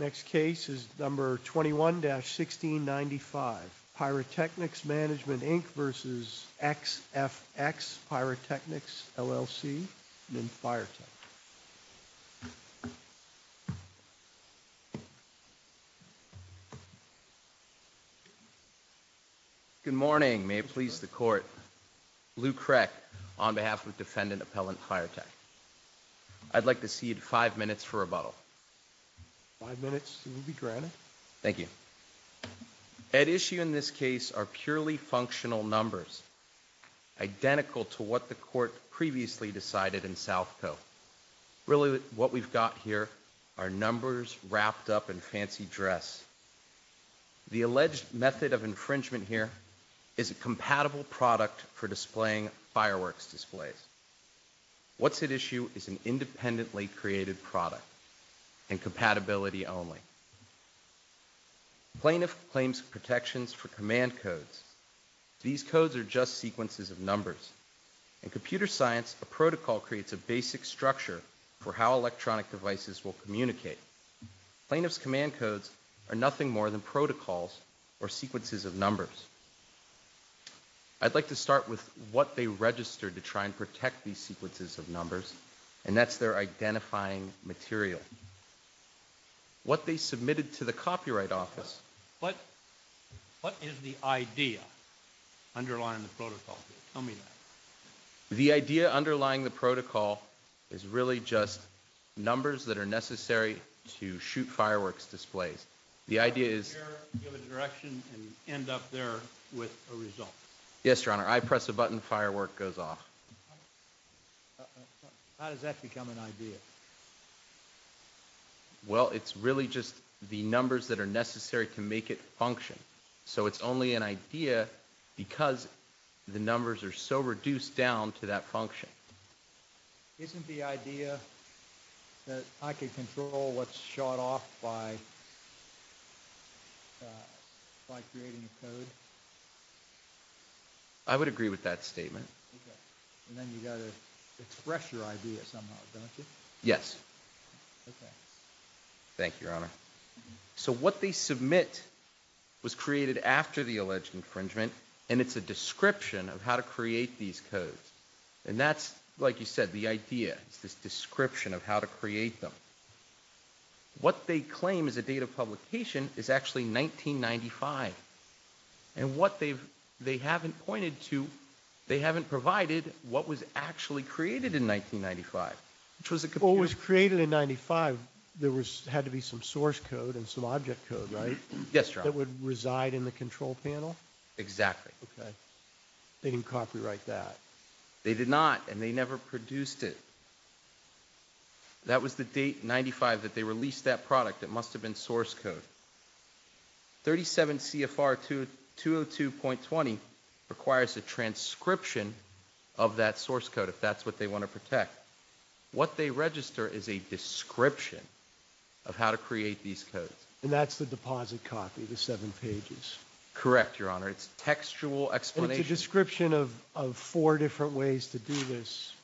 Next case is number 21-1695 Pyrotechnics Mgmt Inc v. XFX Pyrotechnics LLC in Pyrotechnics. Good morning. May it please the court. Lew Kreck on behalf of defendant appellant Pyrotechnics. I'd like to cede five minutes for rebuttal. Five minutes will be granted. Thank you. At issue in this case are purely functional numbers identical to what the court previously decided in South Co. Really what we've got here are numbers wrapped up in fancy dress. The alleged method of infringement here is a compatible product for displaying fireworks displays. What's at issue is an independently created product and compatibility only. Plaintiff claims protections for command codes. These codes are just sequences of numbers. In computer science, a protocol creates a basic structure for how electronic devices will communicate. Plaintiff's command codes are nothing more than protocols or sequences of numbers. And that's their identifying material. What they submitted to the copyright office. What is the idea underlying the protocol? Tell me that. The idea underlying the protocol is really just numbers that are necessary to shoot fireworks displays. The idea is. Give a direction and end up there with a result. Yes, your honor, I press a button, firework goes off. How does that become an idea? Well, it's really just the numbers that are necessary to make it function. So it's only an idea because the numbers are so reduced down to that function. Isn't the idea that I could control what's shot off by? By creating a code. I would agree with that statement. And then you gotta express your idea somehow, don't you? Yes. Thank you, your honor. So what they submit was created after the alleged infringement, and it's a description of how to create these codes. And that's like you said, the idea is this description of how to create them. What they claim is a date of publication is actually 1995. And what they've, they haven't pointed to, they haven't provided what was actually created in 1995, which was what was created in 95. There was had to be some source code and some object code, right? Yes, your honor. That would reside in the control panel. Exactly. Okay. They didn't copyright that. They did not, and they never produced it. That was the date, 95, that they released that product. It must have been source code. 37 CFR 202.20 requires a transcription of that source code, if that's what they want to protect. What they register is a description of how to create these codes. And that's the deposit copy, the seven pages. Correct, your honor. It's textual explanation. It's a description of four different ways to do this.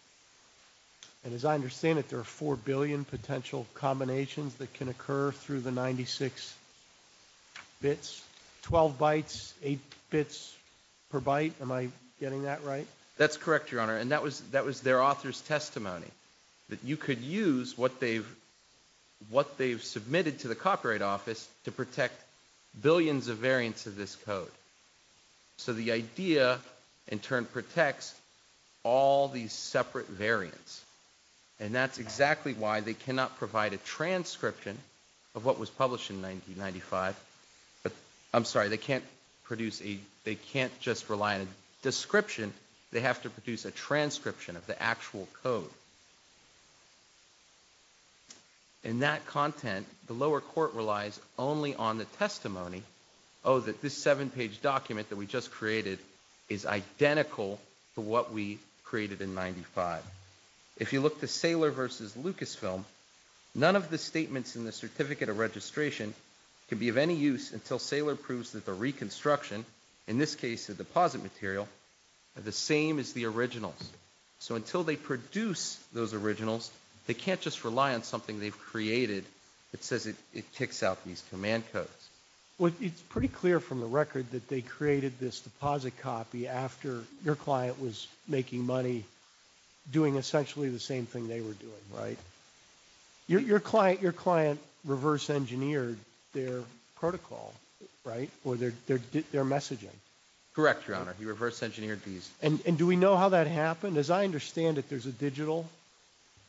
And as I understand it, there are 4 billion potential combinations that can occur through the 96 bits, 12 bytes, 8 bits per byte. Am I getting that right? That's correct, your honor. And that was, that was their author's testimony that you could use what they've, what they've submitted to the copyright office to protect billions of variants of this code. So the idea in turn protects all these separate variants. And that's exactly why they cannot provide a transcription of what was published in 1995. But I'm sorry, they can't produce a, they can't just rely on a description. They have to produce a transcription of the actual code. And that content, the lower court relies only on the testimony, oh, that this seven page document that we just created is identical to what we created in 95. If you look to Saylor versus Lucasfilm, none of the statements in the certificate of registration can be of any use until Saylor proves that the reconstruction, in this case, the deposit material, are the same as the originals. So until they produce those originals, they can't just rely on something they've created that says it ticks out these command codes. It's pretty clear from the record that they created this deposit copy after your client was making money doing essentially the same thing they were doing, right? Your client, your client reverse engineered their protocol, right? Or their messaging. Correct, your honor. He reverse engineered these. And do we know how that happened? As I understand it, there's a digital,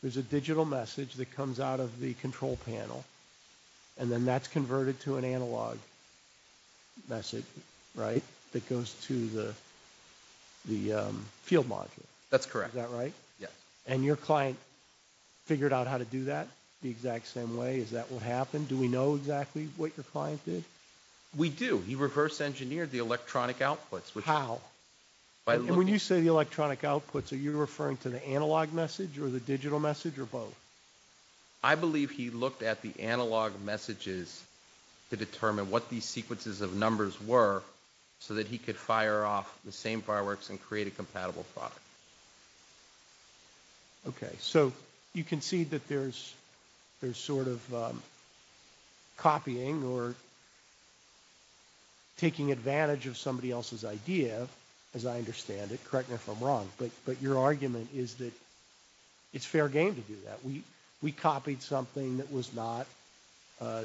there's a digital message that comes out of the control panel, and then that's converted to an analog message, right, that goes to the field module. That's correct. Is that right? Yes. And your client figured out how to do that the exact same way? Is that what happened? Do we know exactly what your client did? We do. He reverse engineered the electronic outputs. How? When you say the electronic outputs, are you referring to the analog message or the digital message or both? I believe he looked at the analog messages to determine what these sequences of numbers were so that he could fire off the same fireworks and create a compatible product. Okay, so you can see that there's sort of copying or as I understand it, correct me if I'm wrong, but your argument is that it's fair game to do that. We copied something that was not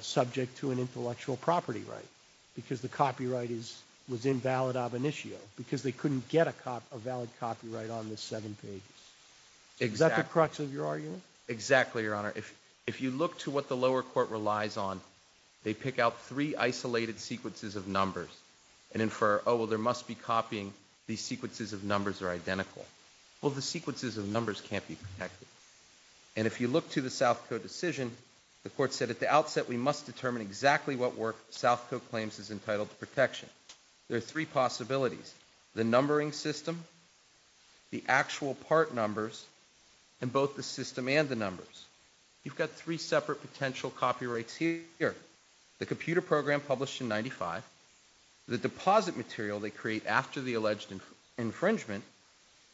subject to an intellectual property right because the copyright is, was invalid ab initio, because they couldn't get a valid copyright on the seven pages. Exactly. Is that the crux of your argument? Exactly, your honor. If you look to what the lower court relies on, they pick out three isolated sequences of numbers and infer, oh, well, there must be copying. These sequences of numbers are identical. Well, the sequences of numbers can't be protected. And if you look to the South Code decision, the court said at the outset, we must determine exactly what work South Code claims is entitled to protection. There are three possibilities, the numbering system, the actual part numbers, and both the system and the numbers. You've got three separate potential copyrights here. The computer program published in 95, the deposit material they create after the alleged infringement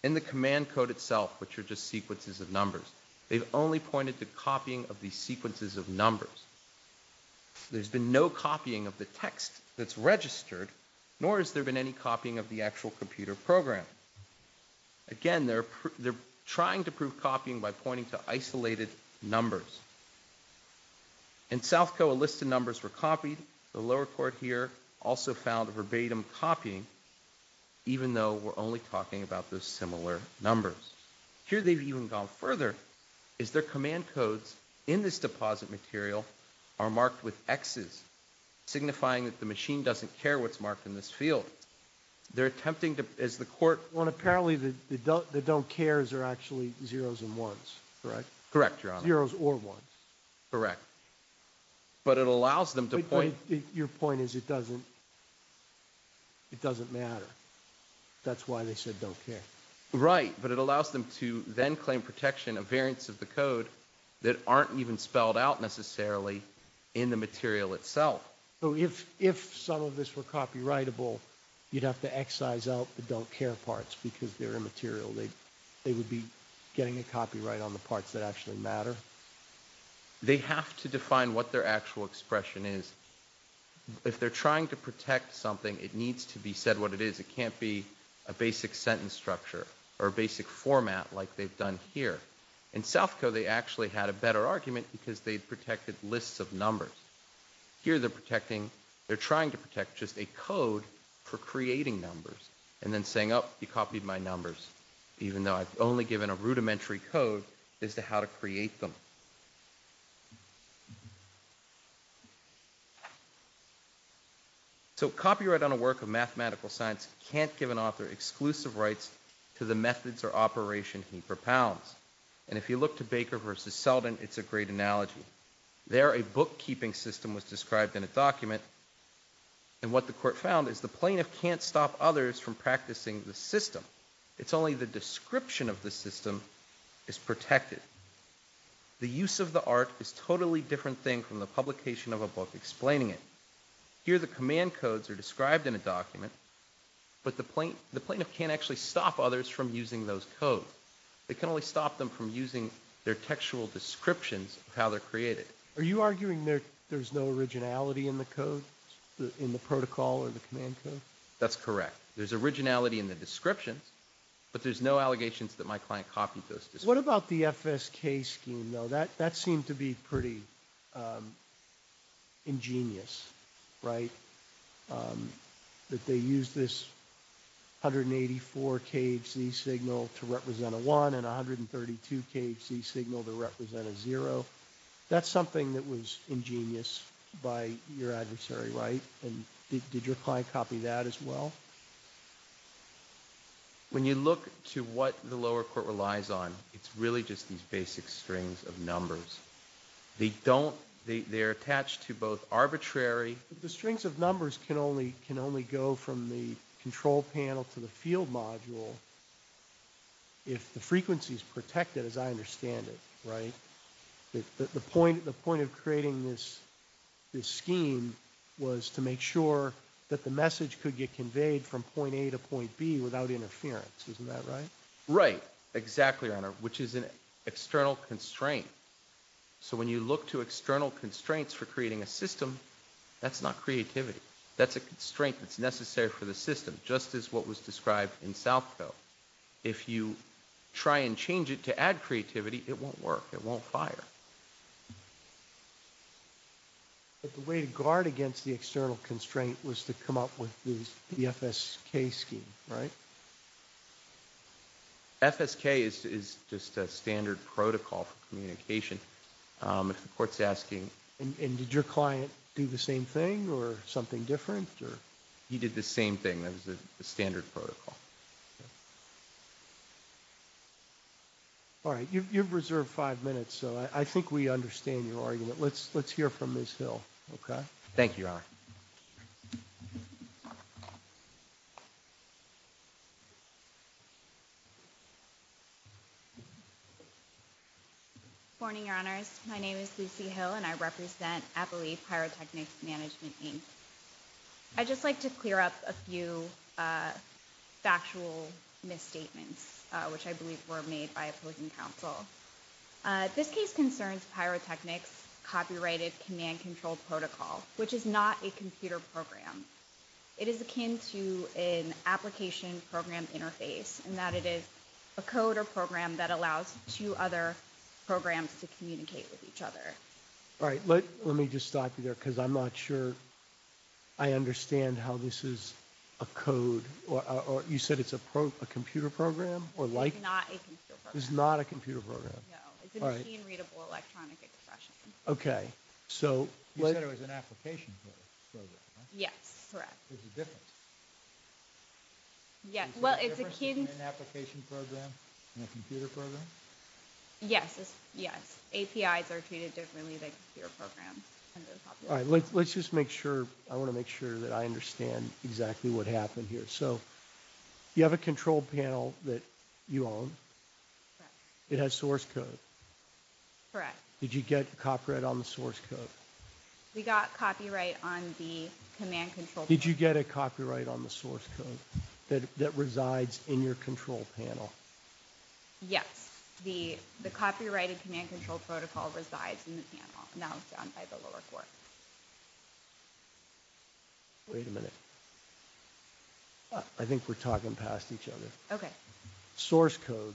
in the command code itself, which are just sequences of numbers. They've only pointed to copying of these sequences of numbers. There's been no copying of the text that's registered, nor has there been any copying of the actual computer program. Again, they're trying to prove copying by pointing to isolated numbers. In South Code, a list of numbers were copied. The lower court here also found verbatim copying, even though we're only talking about those similar numbers. Here, they've even gone further, is their command codes in this deposit material are marked with X's, signifying that the machine doesn't care what's marked in this field. They're attempting to, as the court... Well, apparently, the don't cares are actually zeros and ones, correct? Correct, Your Honor. Zeros or ones. Correct, but it allows them to point... Your point is it doesn't matter. That's why they said don't care. Right, but it allows them to then claim protection of variants of the code that aren't even spelled out necessarily in the material itself. So if some of this were copyrightable, you'd have to excise out the don't care parts because they're immaterial. They would be getting a copyright on the parts that actually matter. They have to define what their actual expression is. If they're trying to protect something, it needs to be said what it is. It can't be a basic sentence structure or a basic format like they've done here. In South Code, they actually had a better argument because they protected lists of numbers. Here, they're trying to protect just a code for creating numbers and then saying, oh, you copied my numbers, even though I've only given a rudimentary code as to how to create them. So copyright on a work of mathematical science can't give an author exclusive rights to the methods or operation he propounds. And if you look to Baker versus Seldin, it's a great analogy. There, a bookkeeping system was described in a document, and what the court found is the plaintiff can't stop others from practicing the system. It's only the description of the system is protected. The use of the art is a totally different thing from the publication of a book explaining it. Here, the command codes are described in a document, but the plaintiff can't actually stop others from using those codes. They can only stop them from using their textual descriptions of how they're created. Are you arguing there's no originality in the code, in the protocol or the command code? That's correct. There's originality in the descriptions, but there's no allegations that my client copied those descriptions. What about the FSK scheme, though? That seemed to be pretty ingenious, right? That they use this 184 KHZ signal to represent a one and 132 KHZ signal to represent a zero. That's something that was ingenious by your adversary, right? And did your client copy that as well? No. When you look to what the lower court relies on, it's really just these basic strings of numbers. They're attached to both arbitrary... The strings of numbers can only go from the control panel to the field module if the frequency is protected, as I understand it, right? The point of creating this scheme was to make sure that the message could get conveyed from point A to point B without interference. Isn't that right? Right. Exactly, Your Honor, which is an external constraint. So when you look to external constraints for creating a system, that's not creativity. That's a constraint that's necessary for the system, just as what was described in Southco. If you try and change it to add creativity, it won't work. It won't fire. But the way to guard against the external constraint was to come up with the FSK scheme, right? FSK is just a standard protocol for communication. If the court's asking... And did your client do the same thing or something different or... He did the same thing. That was the standard protocol. All right, you've reserved five minutes, so I think we understand your argument. Let's hear from Ms. Hill, okay? Thank you, Your Honor. Good morning, Your Honors. My name is Lucy Hill, and I represent Appalachia Pyrotechnics Management, Inc. I'd just like to clear up a few factual misstatements, which I believe were made by a publican counsel. This case concerns Pyrotechnics' copyrighted command-controlled protocol, which is not a computer program. It is akin to an application program interface, in that it is a code or program that allows two other programs to communicate with each other. All right, let me just stop you there, because I'm not sure I understand how this is a code, or you said it's a computer program, or like... It's not a computer program. It's not a computer program. No, it's a machine-readable electronic expression. Okay, so... You said it was an application program, right? Yes, correct. There's a difference. Yeah, well, it's akin... Is there a difference between an application program and a computer program? Yes, yes. APIs are treated differently than computer programs under the popular law. Let's just make sure... I want to make sure that I understand exactly what happened here. So, you have a control panel that you own? Correct. It has source code? Correct. Did you get copyright on the source code? We got copyright on the command-controlled... Did you get a copyright on the source code that resides in your control panel? Yes, the copyrighted command-controlled protocol resides in the panel, now done by the lower court. Wait a minute. I think we're talking past each other. Okay. Source code...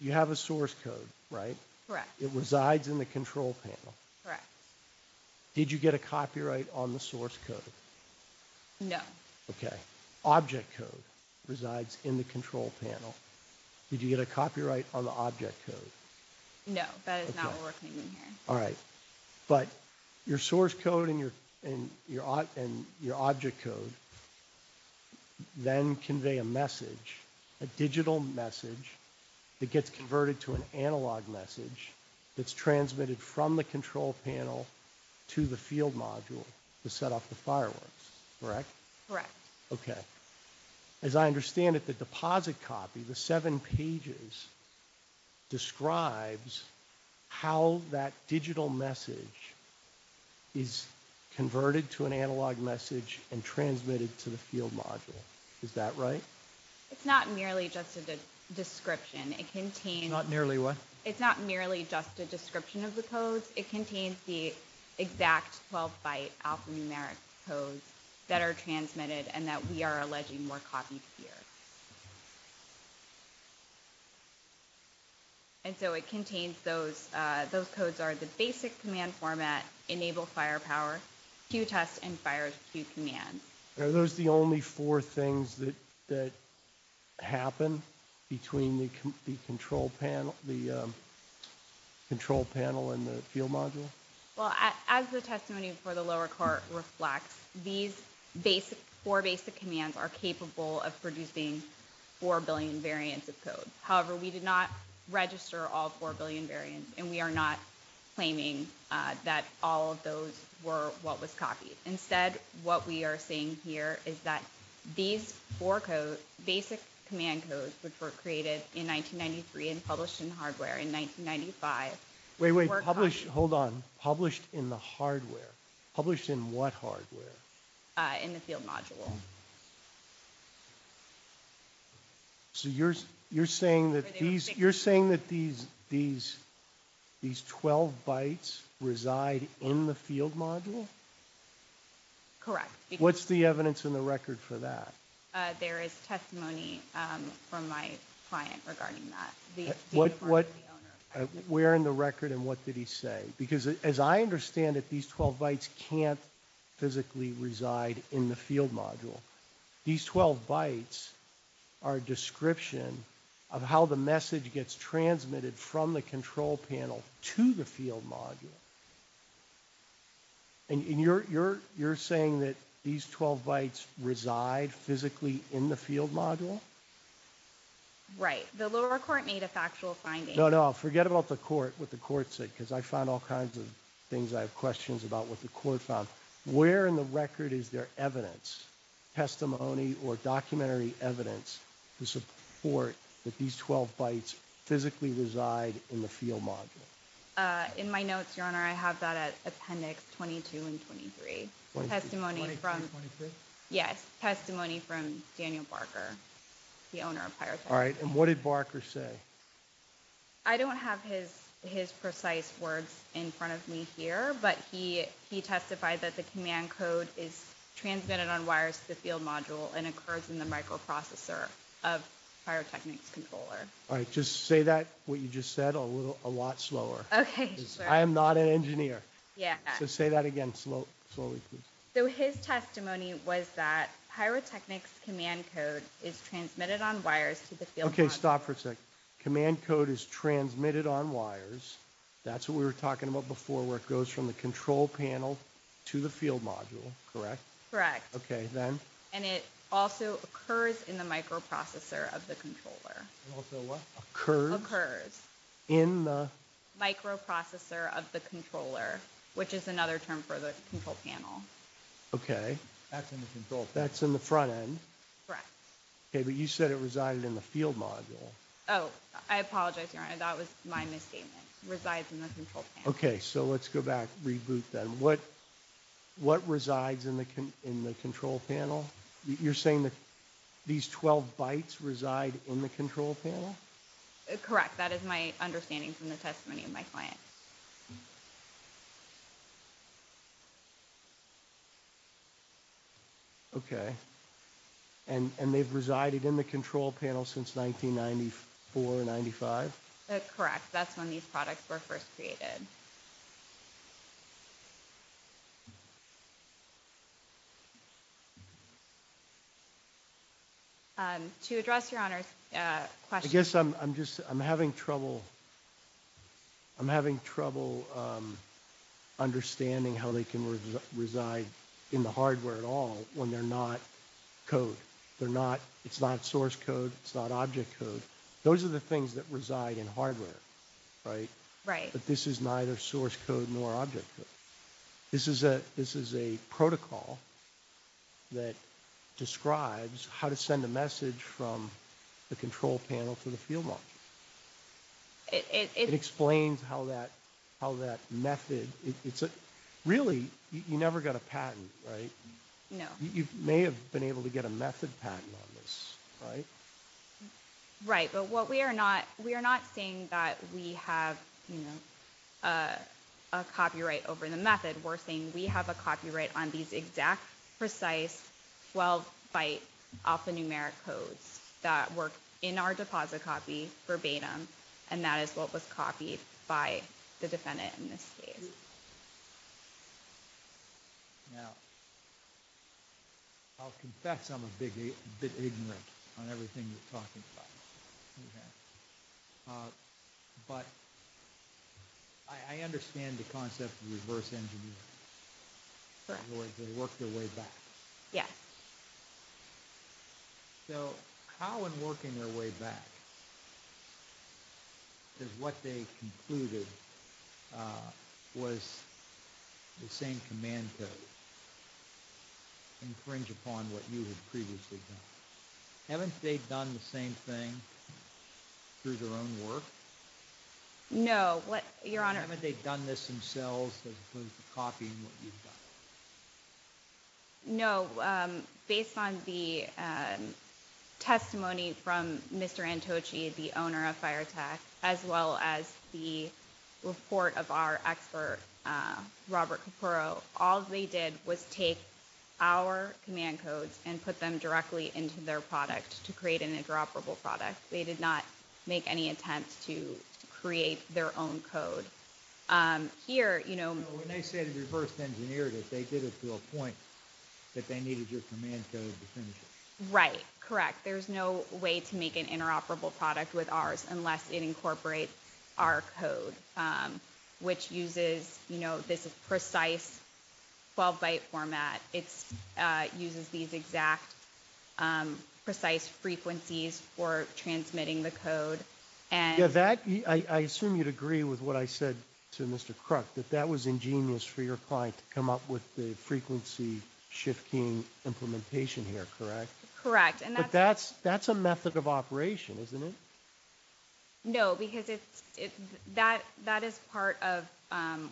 You have a source code, right? Correct. It resides in the control panel? Correct. Did you get a copyright on the source code? No. Okay. Object code resides in the control panel. Did you get a copyright on the object code? No, that is not what we're thinking here. But your source code and your object code then convey a message, a digital message, that gets converted to an analog message that's transmitted from the control panel to the field module to set off the fireworks, correct? Correct. Okay. As I understand it, the deposit copy, the seven pages, describes how that digital message is converted to an analog message and transmitted to the field module. Is that right? It's not merely just a description. It contains... Not nearly what? It's not merely just a description of the codes. It contains the exact 12-byte alphanumeric codes that are transmitted and that we are alleging were copied here. And so it contains those. Those codes are the basic command format, enable firepower, cue test, and fire cue command. Are those the only four things that happen between the control panel and the field module? Well, as the testimony before the lower court reflects, these four basic commands are capable of producing four billion variants of code. However, we did not register all four billion variants, and we are not claiming that all of those were what was copied. Instead, what we are saying here is that these four basic command codes, which were created in 1993 and published in hardware in 1995... Wait, wait. Hold on. Published in the hardware. Published in what hardware? In the field module. So you're saying that these 12-bytes reside in the field module? Correct. What's the evidence in the record for that? There is testimony from my client regarding that. Where in the record and what did he say? Because as I understand it, these 12-bytes can't physically reside in the field module. These 12-bytes are a description of how the message gets transmitted from the control panel to the field module. And you're saying that these 12-bytes reside physically in the field module? Right. The lower court made a factual finding. No, no. Forget about the court, what the court said, because I found all kinds of things. I have questions about what the court found. Where in the record is there evidence, testimony, or documentary evidence to support that these 12-bytes physically reside in the field module? In my notes, Your Honor, I have that at Appendix 22 and 23. Yes, testimony from Daniel Barker, the owner of Pyrotechnics. And what did Barker say? I don't have his precise words in front of me here, but he testified that the command code is transmitted on wires to the field module and occurs in the microprocessor of Pyrotechnics' controller. All right, just say that, what you just said, a lot slower. Okay, sure. I am not an engineer, so say that again slowly, please. So his testimony was that Pyrotechnics' command code is transmitted on wires to the field module. Okay, stop for a second. Command code is transmitted on wires. That's what we were talking about before, where it goes from the control panel to the field module, correct? Correct. Okay, then? And it also occurs in the microprocessor of the controller. It also what? Occurs? Occurs. In the? Microprocessor of the controller, which is another term for the control panel. Okay. That's in the control. That's in the front end. Correct. Okay, but you said it resided in the field module. Oh, I apologize, Your Honor. That was my misstatement. Resides in the control panel. Okay, so let's go back, reboot then. What resides in the control panel? You're saying that these 12 bytes reside in the control panel? Correct. That is my understanding from the testimony of my client. Okay, and they've resided in the control panel since 1994, 95? That's correct. That's when these products were first created. To address Your Honor's question. I'm having trouble understanding how they can reside in the hardware at all when they're not code. It's not source code. It's not object code. Those are the things that reside in hardware, right? Right. But this is neither source code nor object code. This is a protocol that describes how to send a message from the control panel to the field module. It explains how that method. Really, you never got a patent, right? No. You may have been able to get a method patent on this, right? Right. But we are not saying that we have a copyright over the method. We're saying we have a copyright on these exact, precise 12-byte alphanumeric codes that work in our deposit copy verbatim, and that is what was copied by the defendant in this case. Now, I'll confess I'm a bit ignorant on everything you're talking about. But I understand the concept of reverse engineering. They work their way back. Yeah. So how in working their way back is what they concluded was the same command code and cringe upon what you had previously done? Haven't they done the same thing through their own work? No, Your Honor. Haven't they done this themselves as opposed to copying what you've done? No. No. Based on the testimony from Mr. Antoci, the owner of FireTech, as well as the report of our expert, Robert Capurro, all they did was take our command codes and put them directly into their product to create an interoperable product. They did not make any attempt to create their own code. Here, you know... When they say the reverse engineered it, they did it to a point that they needed your command code to finish it. Right. Correct. There's no way to make an interoperable product with ours unless it incorporates our code, which uses, you know, this is precise 12-byte format. It uses these exact precise frequencies for transmitting the code and... I assume you'd agree with what I said to Mr. Crook, that that was ingenious for your client to come up with the frequency shifting implementation here, correct? Correct. But that's a method of operation, isn't it? No, because that is part of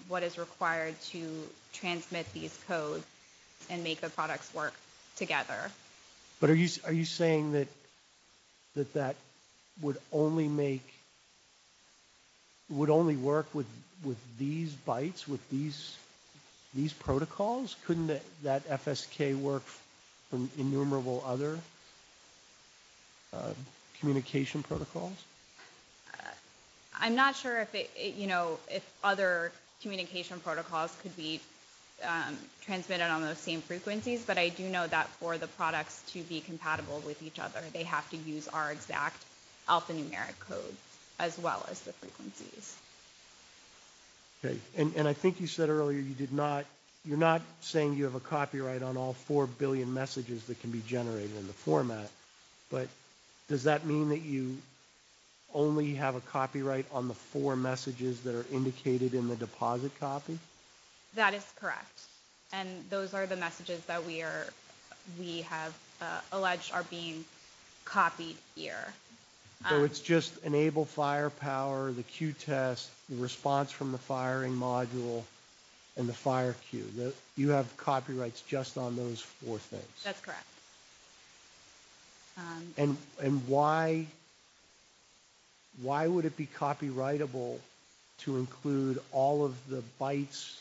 what is required to transmit these codes and make the products work together. But are you saying that that would only make... Would only work with these bytes, with these protocols? Couldn't that FSK work from innumerable other communication protocols? I'm not sure if, you know, if other communication protocols could be be compatible with each other. They have to use our exact alphanumeric code as well as the frequencies. Okay, and I think you said earlier you did not... You're not saying you have a copyright on all 4 billion messages that can be generated in the format, but does that mean that you only have a copyright on the 4 messages that are indicated in the deposit copy? That is correct. And those are the messages that we have alleged are being copied here. So it's just enable firepower, the queue test, the response from the firing module, and the fire queue. You have copyrights just on those 4 things? That's correct. And why would it be copyrightable to include all of the bytes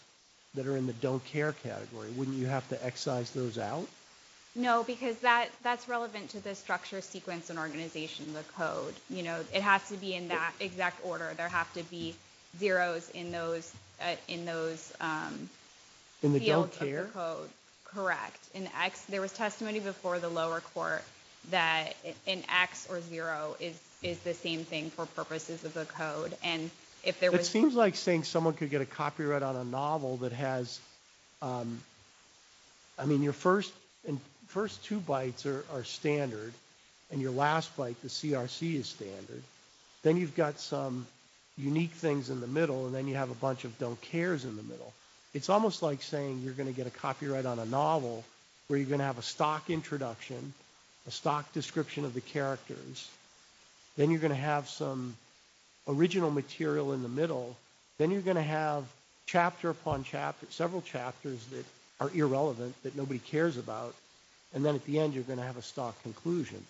that are in the GoCare category? Wouldn't you have to excise those out? No, because that's relevant to the structure, sequence, and organization of the code. You know, it has to be in that exact order. There have to be zeros in those fields of the code. Correct. In X, there was testimony before the lower court that an X or zero is the same thing for purposes of the code. And if there was... I mean, your first two bytes are standard, and your last byte, the CRC, is standard. Then you've got some unique things in the middle, and then you have a bunch of don't cares in the middle. It's almost like saying you're going to get a copyright on a novel where you're going to have a stock introduction, a stock description of the characters. Then you're going to have some original material in the middle. Then you're going to have chapter upon chapter, several chapters that are irrelevant, that nobody cares about. And then at the end, you're going to have a stock conclusion.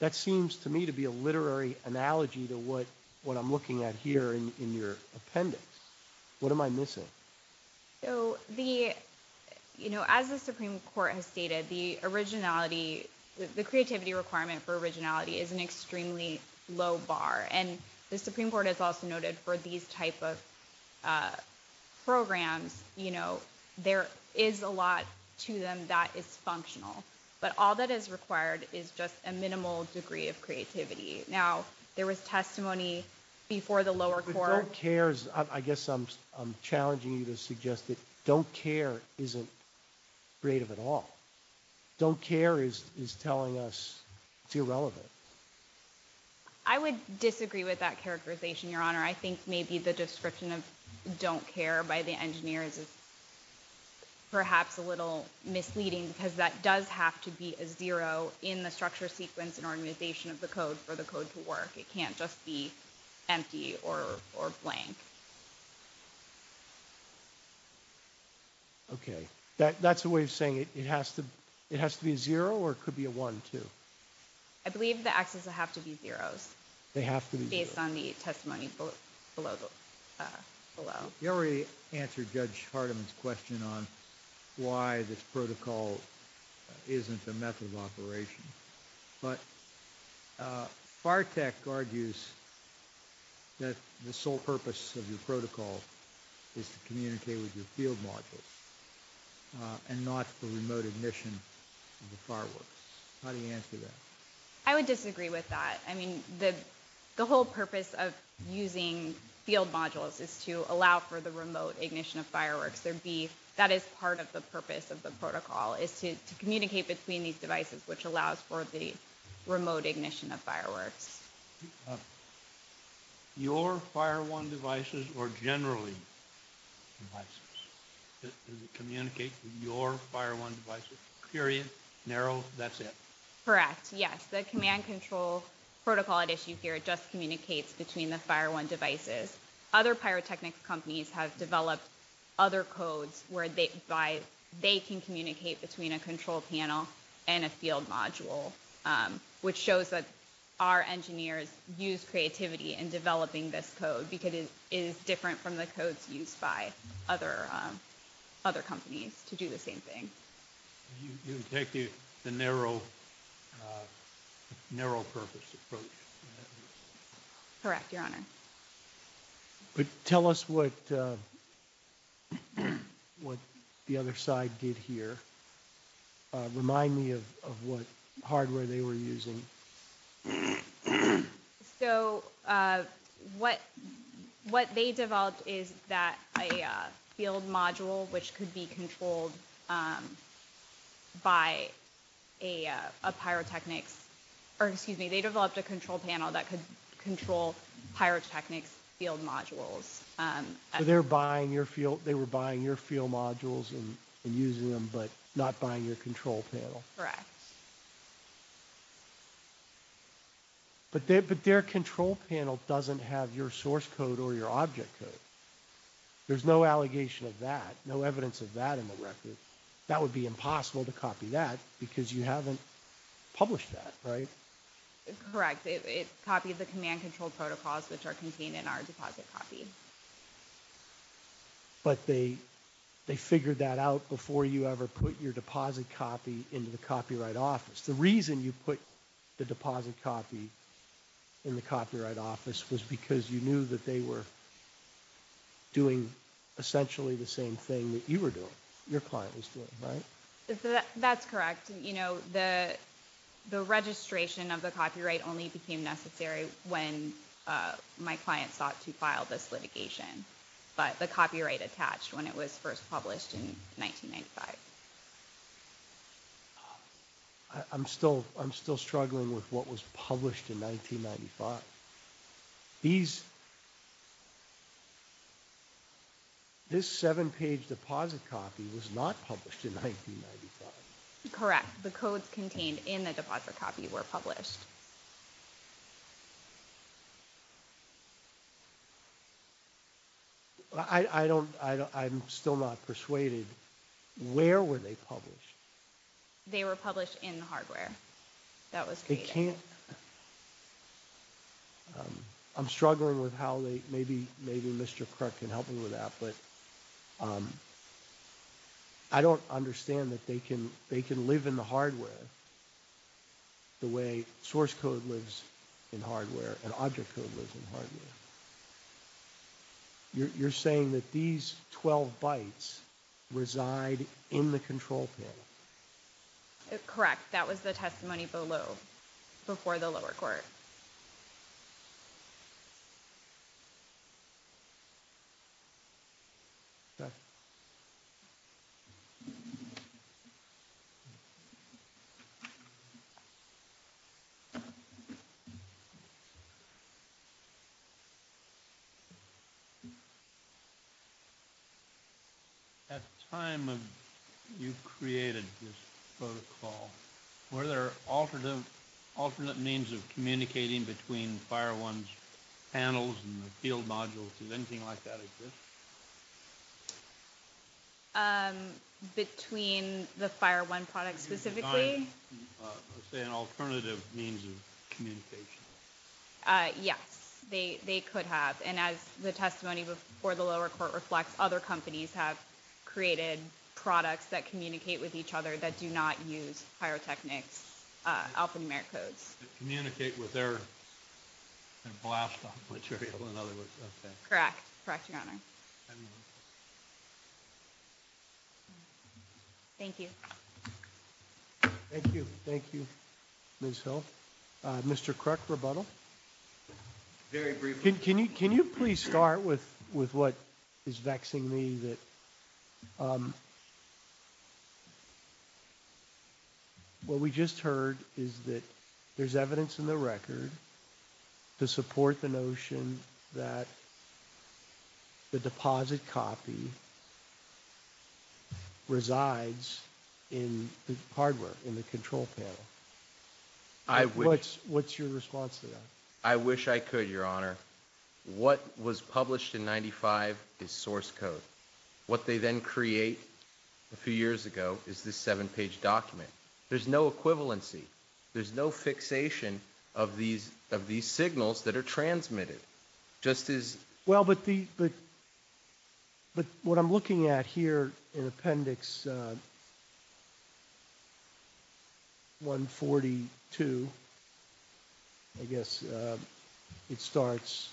That seems to me to be a literary analogy to what I'm looking at here in your appendix. What am I missing? So, you know, as the Supreme Court has stated, the originality, the creativity requirement for originality is an extremely low bar. And the Supreme Court has also noted for these type of programs, you know, there is a lot to them that is functional. But all that is required is just a minimal degree of creativity. Now, there was testimony before the lower court... But don't cares, I guess I'm challenging you to suggest that don't care isn't creative at all. Don't care is telling us it's irrelevant. I would disagree with that characterization, Your Honor. I think maybe the description of don't care by the engineers is perhaps a little misleading because that does have to be a zero in the structure, sequence, and organization of the code for the code to work. It can't just be empty or blank. OK, that's a way of saying it has to be a zero or it could be a one, too. I believe the axes have to be zeros. They have to be zeros. Based on the testimony below. You already answered Judge Hardiman's question on why this protocol isn't a method of operation. But FARTEC argues that the sole purpose of your protocol is to communicate with your field modules and not the remote admission of the fireworks. How do you answer that? I would disagree with that. I mean, the whole purpose of using field modules is to allow for the remote ignition of fireworks. There'd be that is part of the purpose of the protocol is to communicate between these devices, which allows for the remote ignition of fireworks. Your fire one devices or generally devices communicate with your fire one devices period narrow. That's it. Correct. Yes, the command control protocol at issue here just communicates between the fire one devices. Other pyrotechnics companies have developed other codes where they can communicate between a control panel and a field module, which shows that our engineers use creativity in developing this code because it is different from the codes used by other companies to do the same thing. You take the narrow, narrow purpose approach. Correct. Your Honor. But tell us what what the other side did here. Remind me of what hardware they were using. So, what what they developed is that a field module which could be controlled by a pyrotechnics or excuse me, they developed a control panel that could control pyrotechnics field modules. They're buying your field. They were buying your field modules and using them, but not buying your control panel. Correct. But their control panel doesn't have your source code or your object code. There's no allegation of that. No evidence of that in the record. That would be impossible to copy that because you haven't published that, right? Correct. It copied the command control protocols which are contained in our deposit copy. But they they figured that out before you ever put your deposit copy into the copyright office. The reason you put the deposit copy in the copyright office was because you knew that they were doing essentially the same thing that you were doing, your client was doing, right? That's correct. You know, the the registration of the copyright only became necessary when my client sought to file this litigation. But the copyright attached when it was first published in 1995. I'm still I'm still struggling with what was published in 1995. These this seven page deposit copy was not published in 1995. Correct. The codes contained in the deposit copy were published. But I don't I'm still not persuaded. Where were they published? They were published in the hardware. That was it can't. I'm struggling with how they maybe maybe Mr. Kirk can help me with that. But I don't understand that they can they can live in the hardware the way source code lives in hardware and object code lives in hardware. So you're saying that these 12 bytes reside in the control panel? Correct. That was the testimony below before the lower court. At the time of you created this protocol, were there alternative alternate means of communicating between fire ones, panels and the field modules? Is anything like that exist? Between the fire one product specifically? Let's say an alternative means of communication. Uh, yes, they they could have. And as the testimony before the lower court reflects, other companies have created products that communicate with each other that do not use pyrotechnics, alphanumeric codes, communicate with their blast off material. In other words, correct. Correct. Thank you. Thank you. Thank you. Ms. Hill, Mr. Kirk, rebuttal. Very briefly. Can you can you please start with with what is vexing me that what we just heard is that there's evidence in the record to support the notion that the deposit copy resides in the hardware in the control panel. I which what's your response to that? I wish I could, Your Honor. What was published in 95 is source code. What they then create a few years ago is this seven page document. There's no equivalency. There's no fixation of these of these signals that are transmitted just as well. But what I'm looking at here in Appendix 142, I guess it starts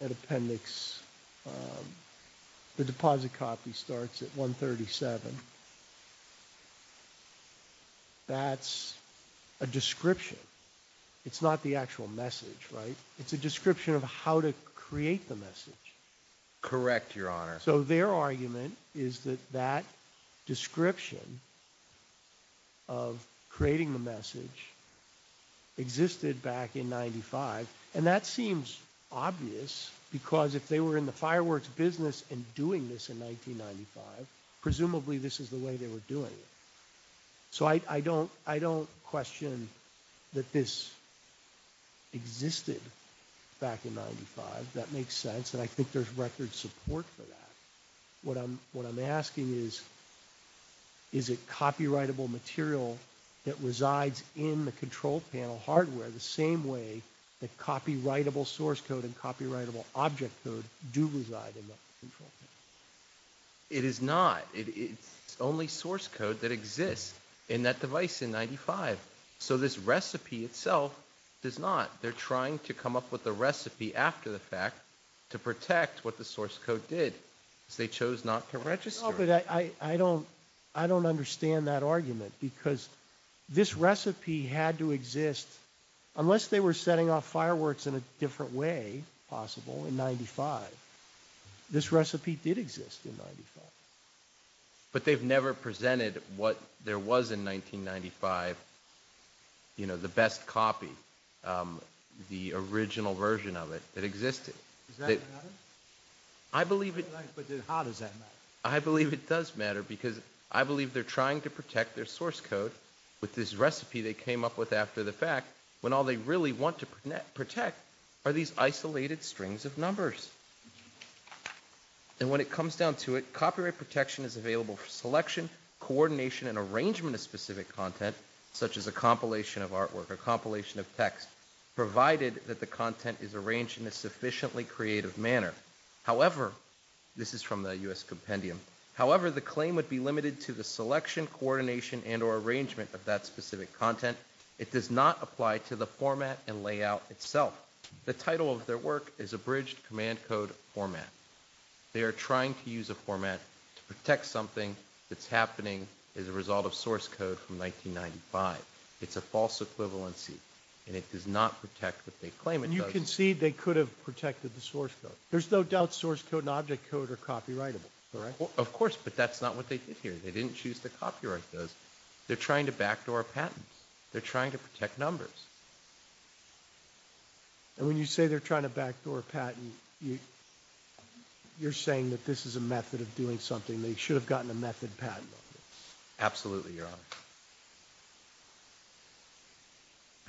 at Appendix. The deposit copy starts at 137. That's a description. It's not the actual message, right? It's a description of how to create the message. Correct, Your Honor. So their argument is that that description of creating the message existed back in 95. And that seems obvious because if they were in the fireworks business and doing this in 1995, presumably this is the way they were doing it. So I don't question that this existed back in 95. That makes sense. And I think there's record support for that. What I'm asking is, is it copywritable material that resides in the control panel hardware the same way that copywritable source code and copywritable object code do reside in the control? It is not. It's only source code that exists in that device in 95. So this recipe itself does not. They're trying to come up with a recipe after the fact to protect what the source code did. Because they chose not to register. No, but I don't understand that argument because this recipe had to exist, unless they were setting off fireworks in a different way possible in 95. This recipe did exist in 95. But they've never presented what there was in 1995, you know, the best copy, the original version of it that existed. Does that matter? I believe it... How does that matter? I believe it does matter because I believe they're trying to protect their source code with this recipe they came up with after the fact, when all they really want to protect are these isolated strings of numbers. And when it comes down to it, copyright protection is available for selection, coordination, and arrangement of specific content, such as a compilation of artwork, a compilation of text, provided that the content is arranged in a sufficiently creative manner. However, this is from the U.S. Compendium. However, the claim would be limited to the selection, coordination, and or arrangement of that specific content. It does not apply to the format and layout itself. The title of their work is Abridged Command Code Format. They are trying to use a format to protect something that's happening as a result of source code from 1995. It's a false equivalency and it does not protect what they claim it does. And you concede they could have protected the source code. There's no doubt source code and object code are copyrightable, correct? Of course, but that's not what they did here. They didn't choose to copyright those. They're trying to backdoor patents. They're trying to protect numbers. And when you say they're trying to backdoor a patent, you're saying that this is a method of doing something. They should have gotten a method patent on this. Absolutely, Your Honor.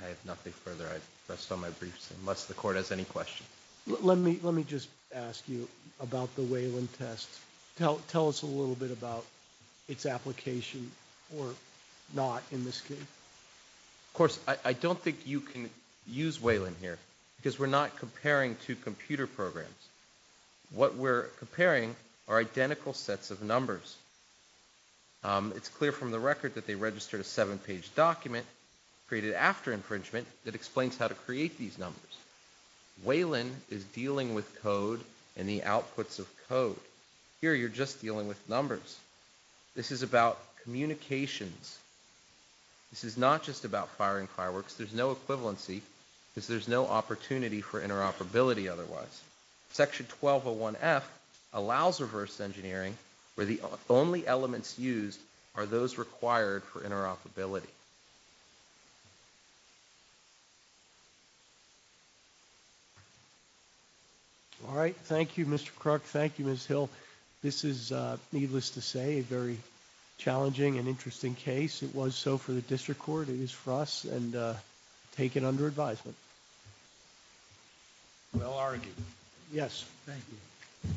I have nothing further. I rest on my briefs unless the court has any questions. Let me just ask you about the Whalen test. Tell us a little bit about its application or not in this case. Of course, I don't think you can use Whalen here because we're not comparing two computer programs. What we're comparing are identical sets of numbers. It's clear from the record that they registered a seven-page document created after infringement that explains how to create these numbers. Whalen is dealing with code and the outputs of code. Here, you're just dealing with numbers. This is about communications. This is not just about firing fireworks. There's no equivalency because there's no opportunity for interoperability otherwise. Section 1201F allows reverse engineering where the only elements used are those required for interoperability. All right. Thank you, Mr. Crook. Thank you, Ms. Hill. This is, needless to say, a very challenging and interesting case. It was so for the district court. It is for us and taken under advisement. Well argued. Yes. Thank you.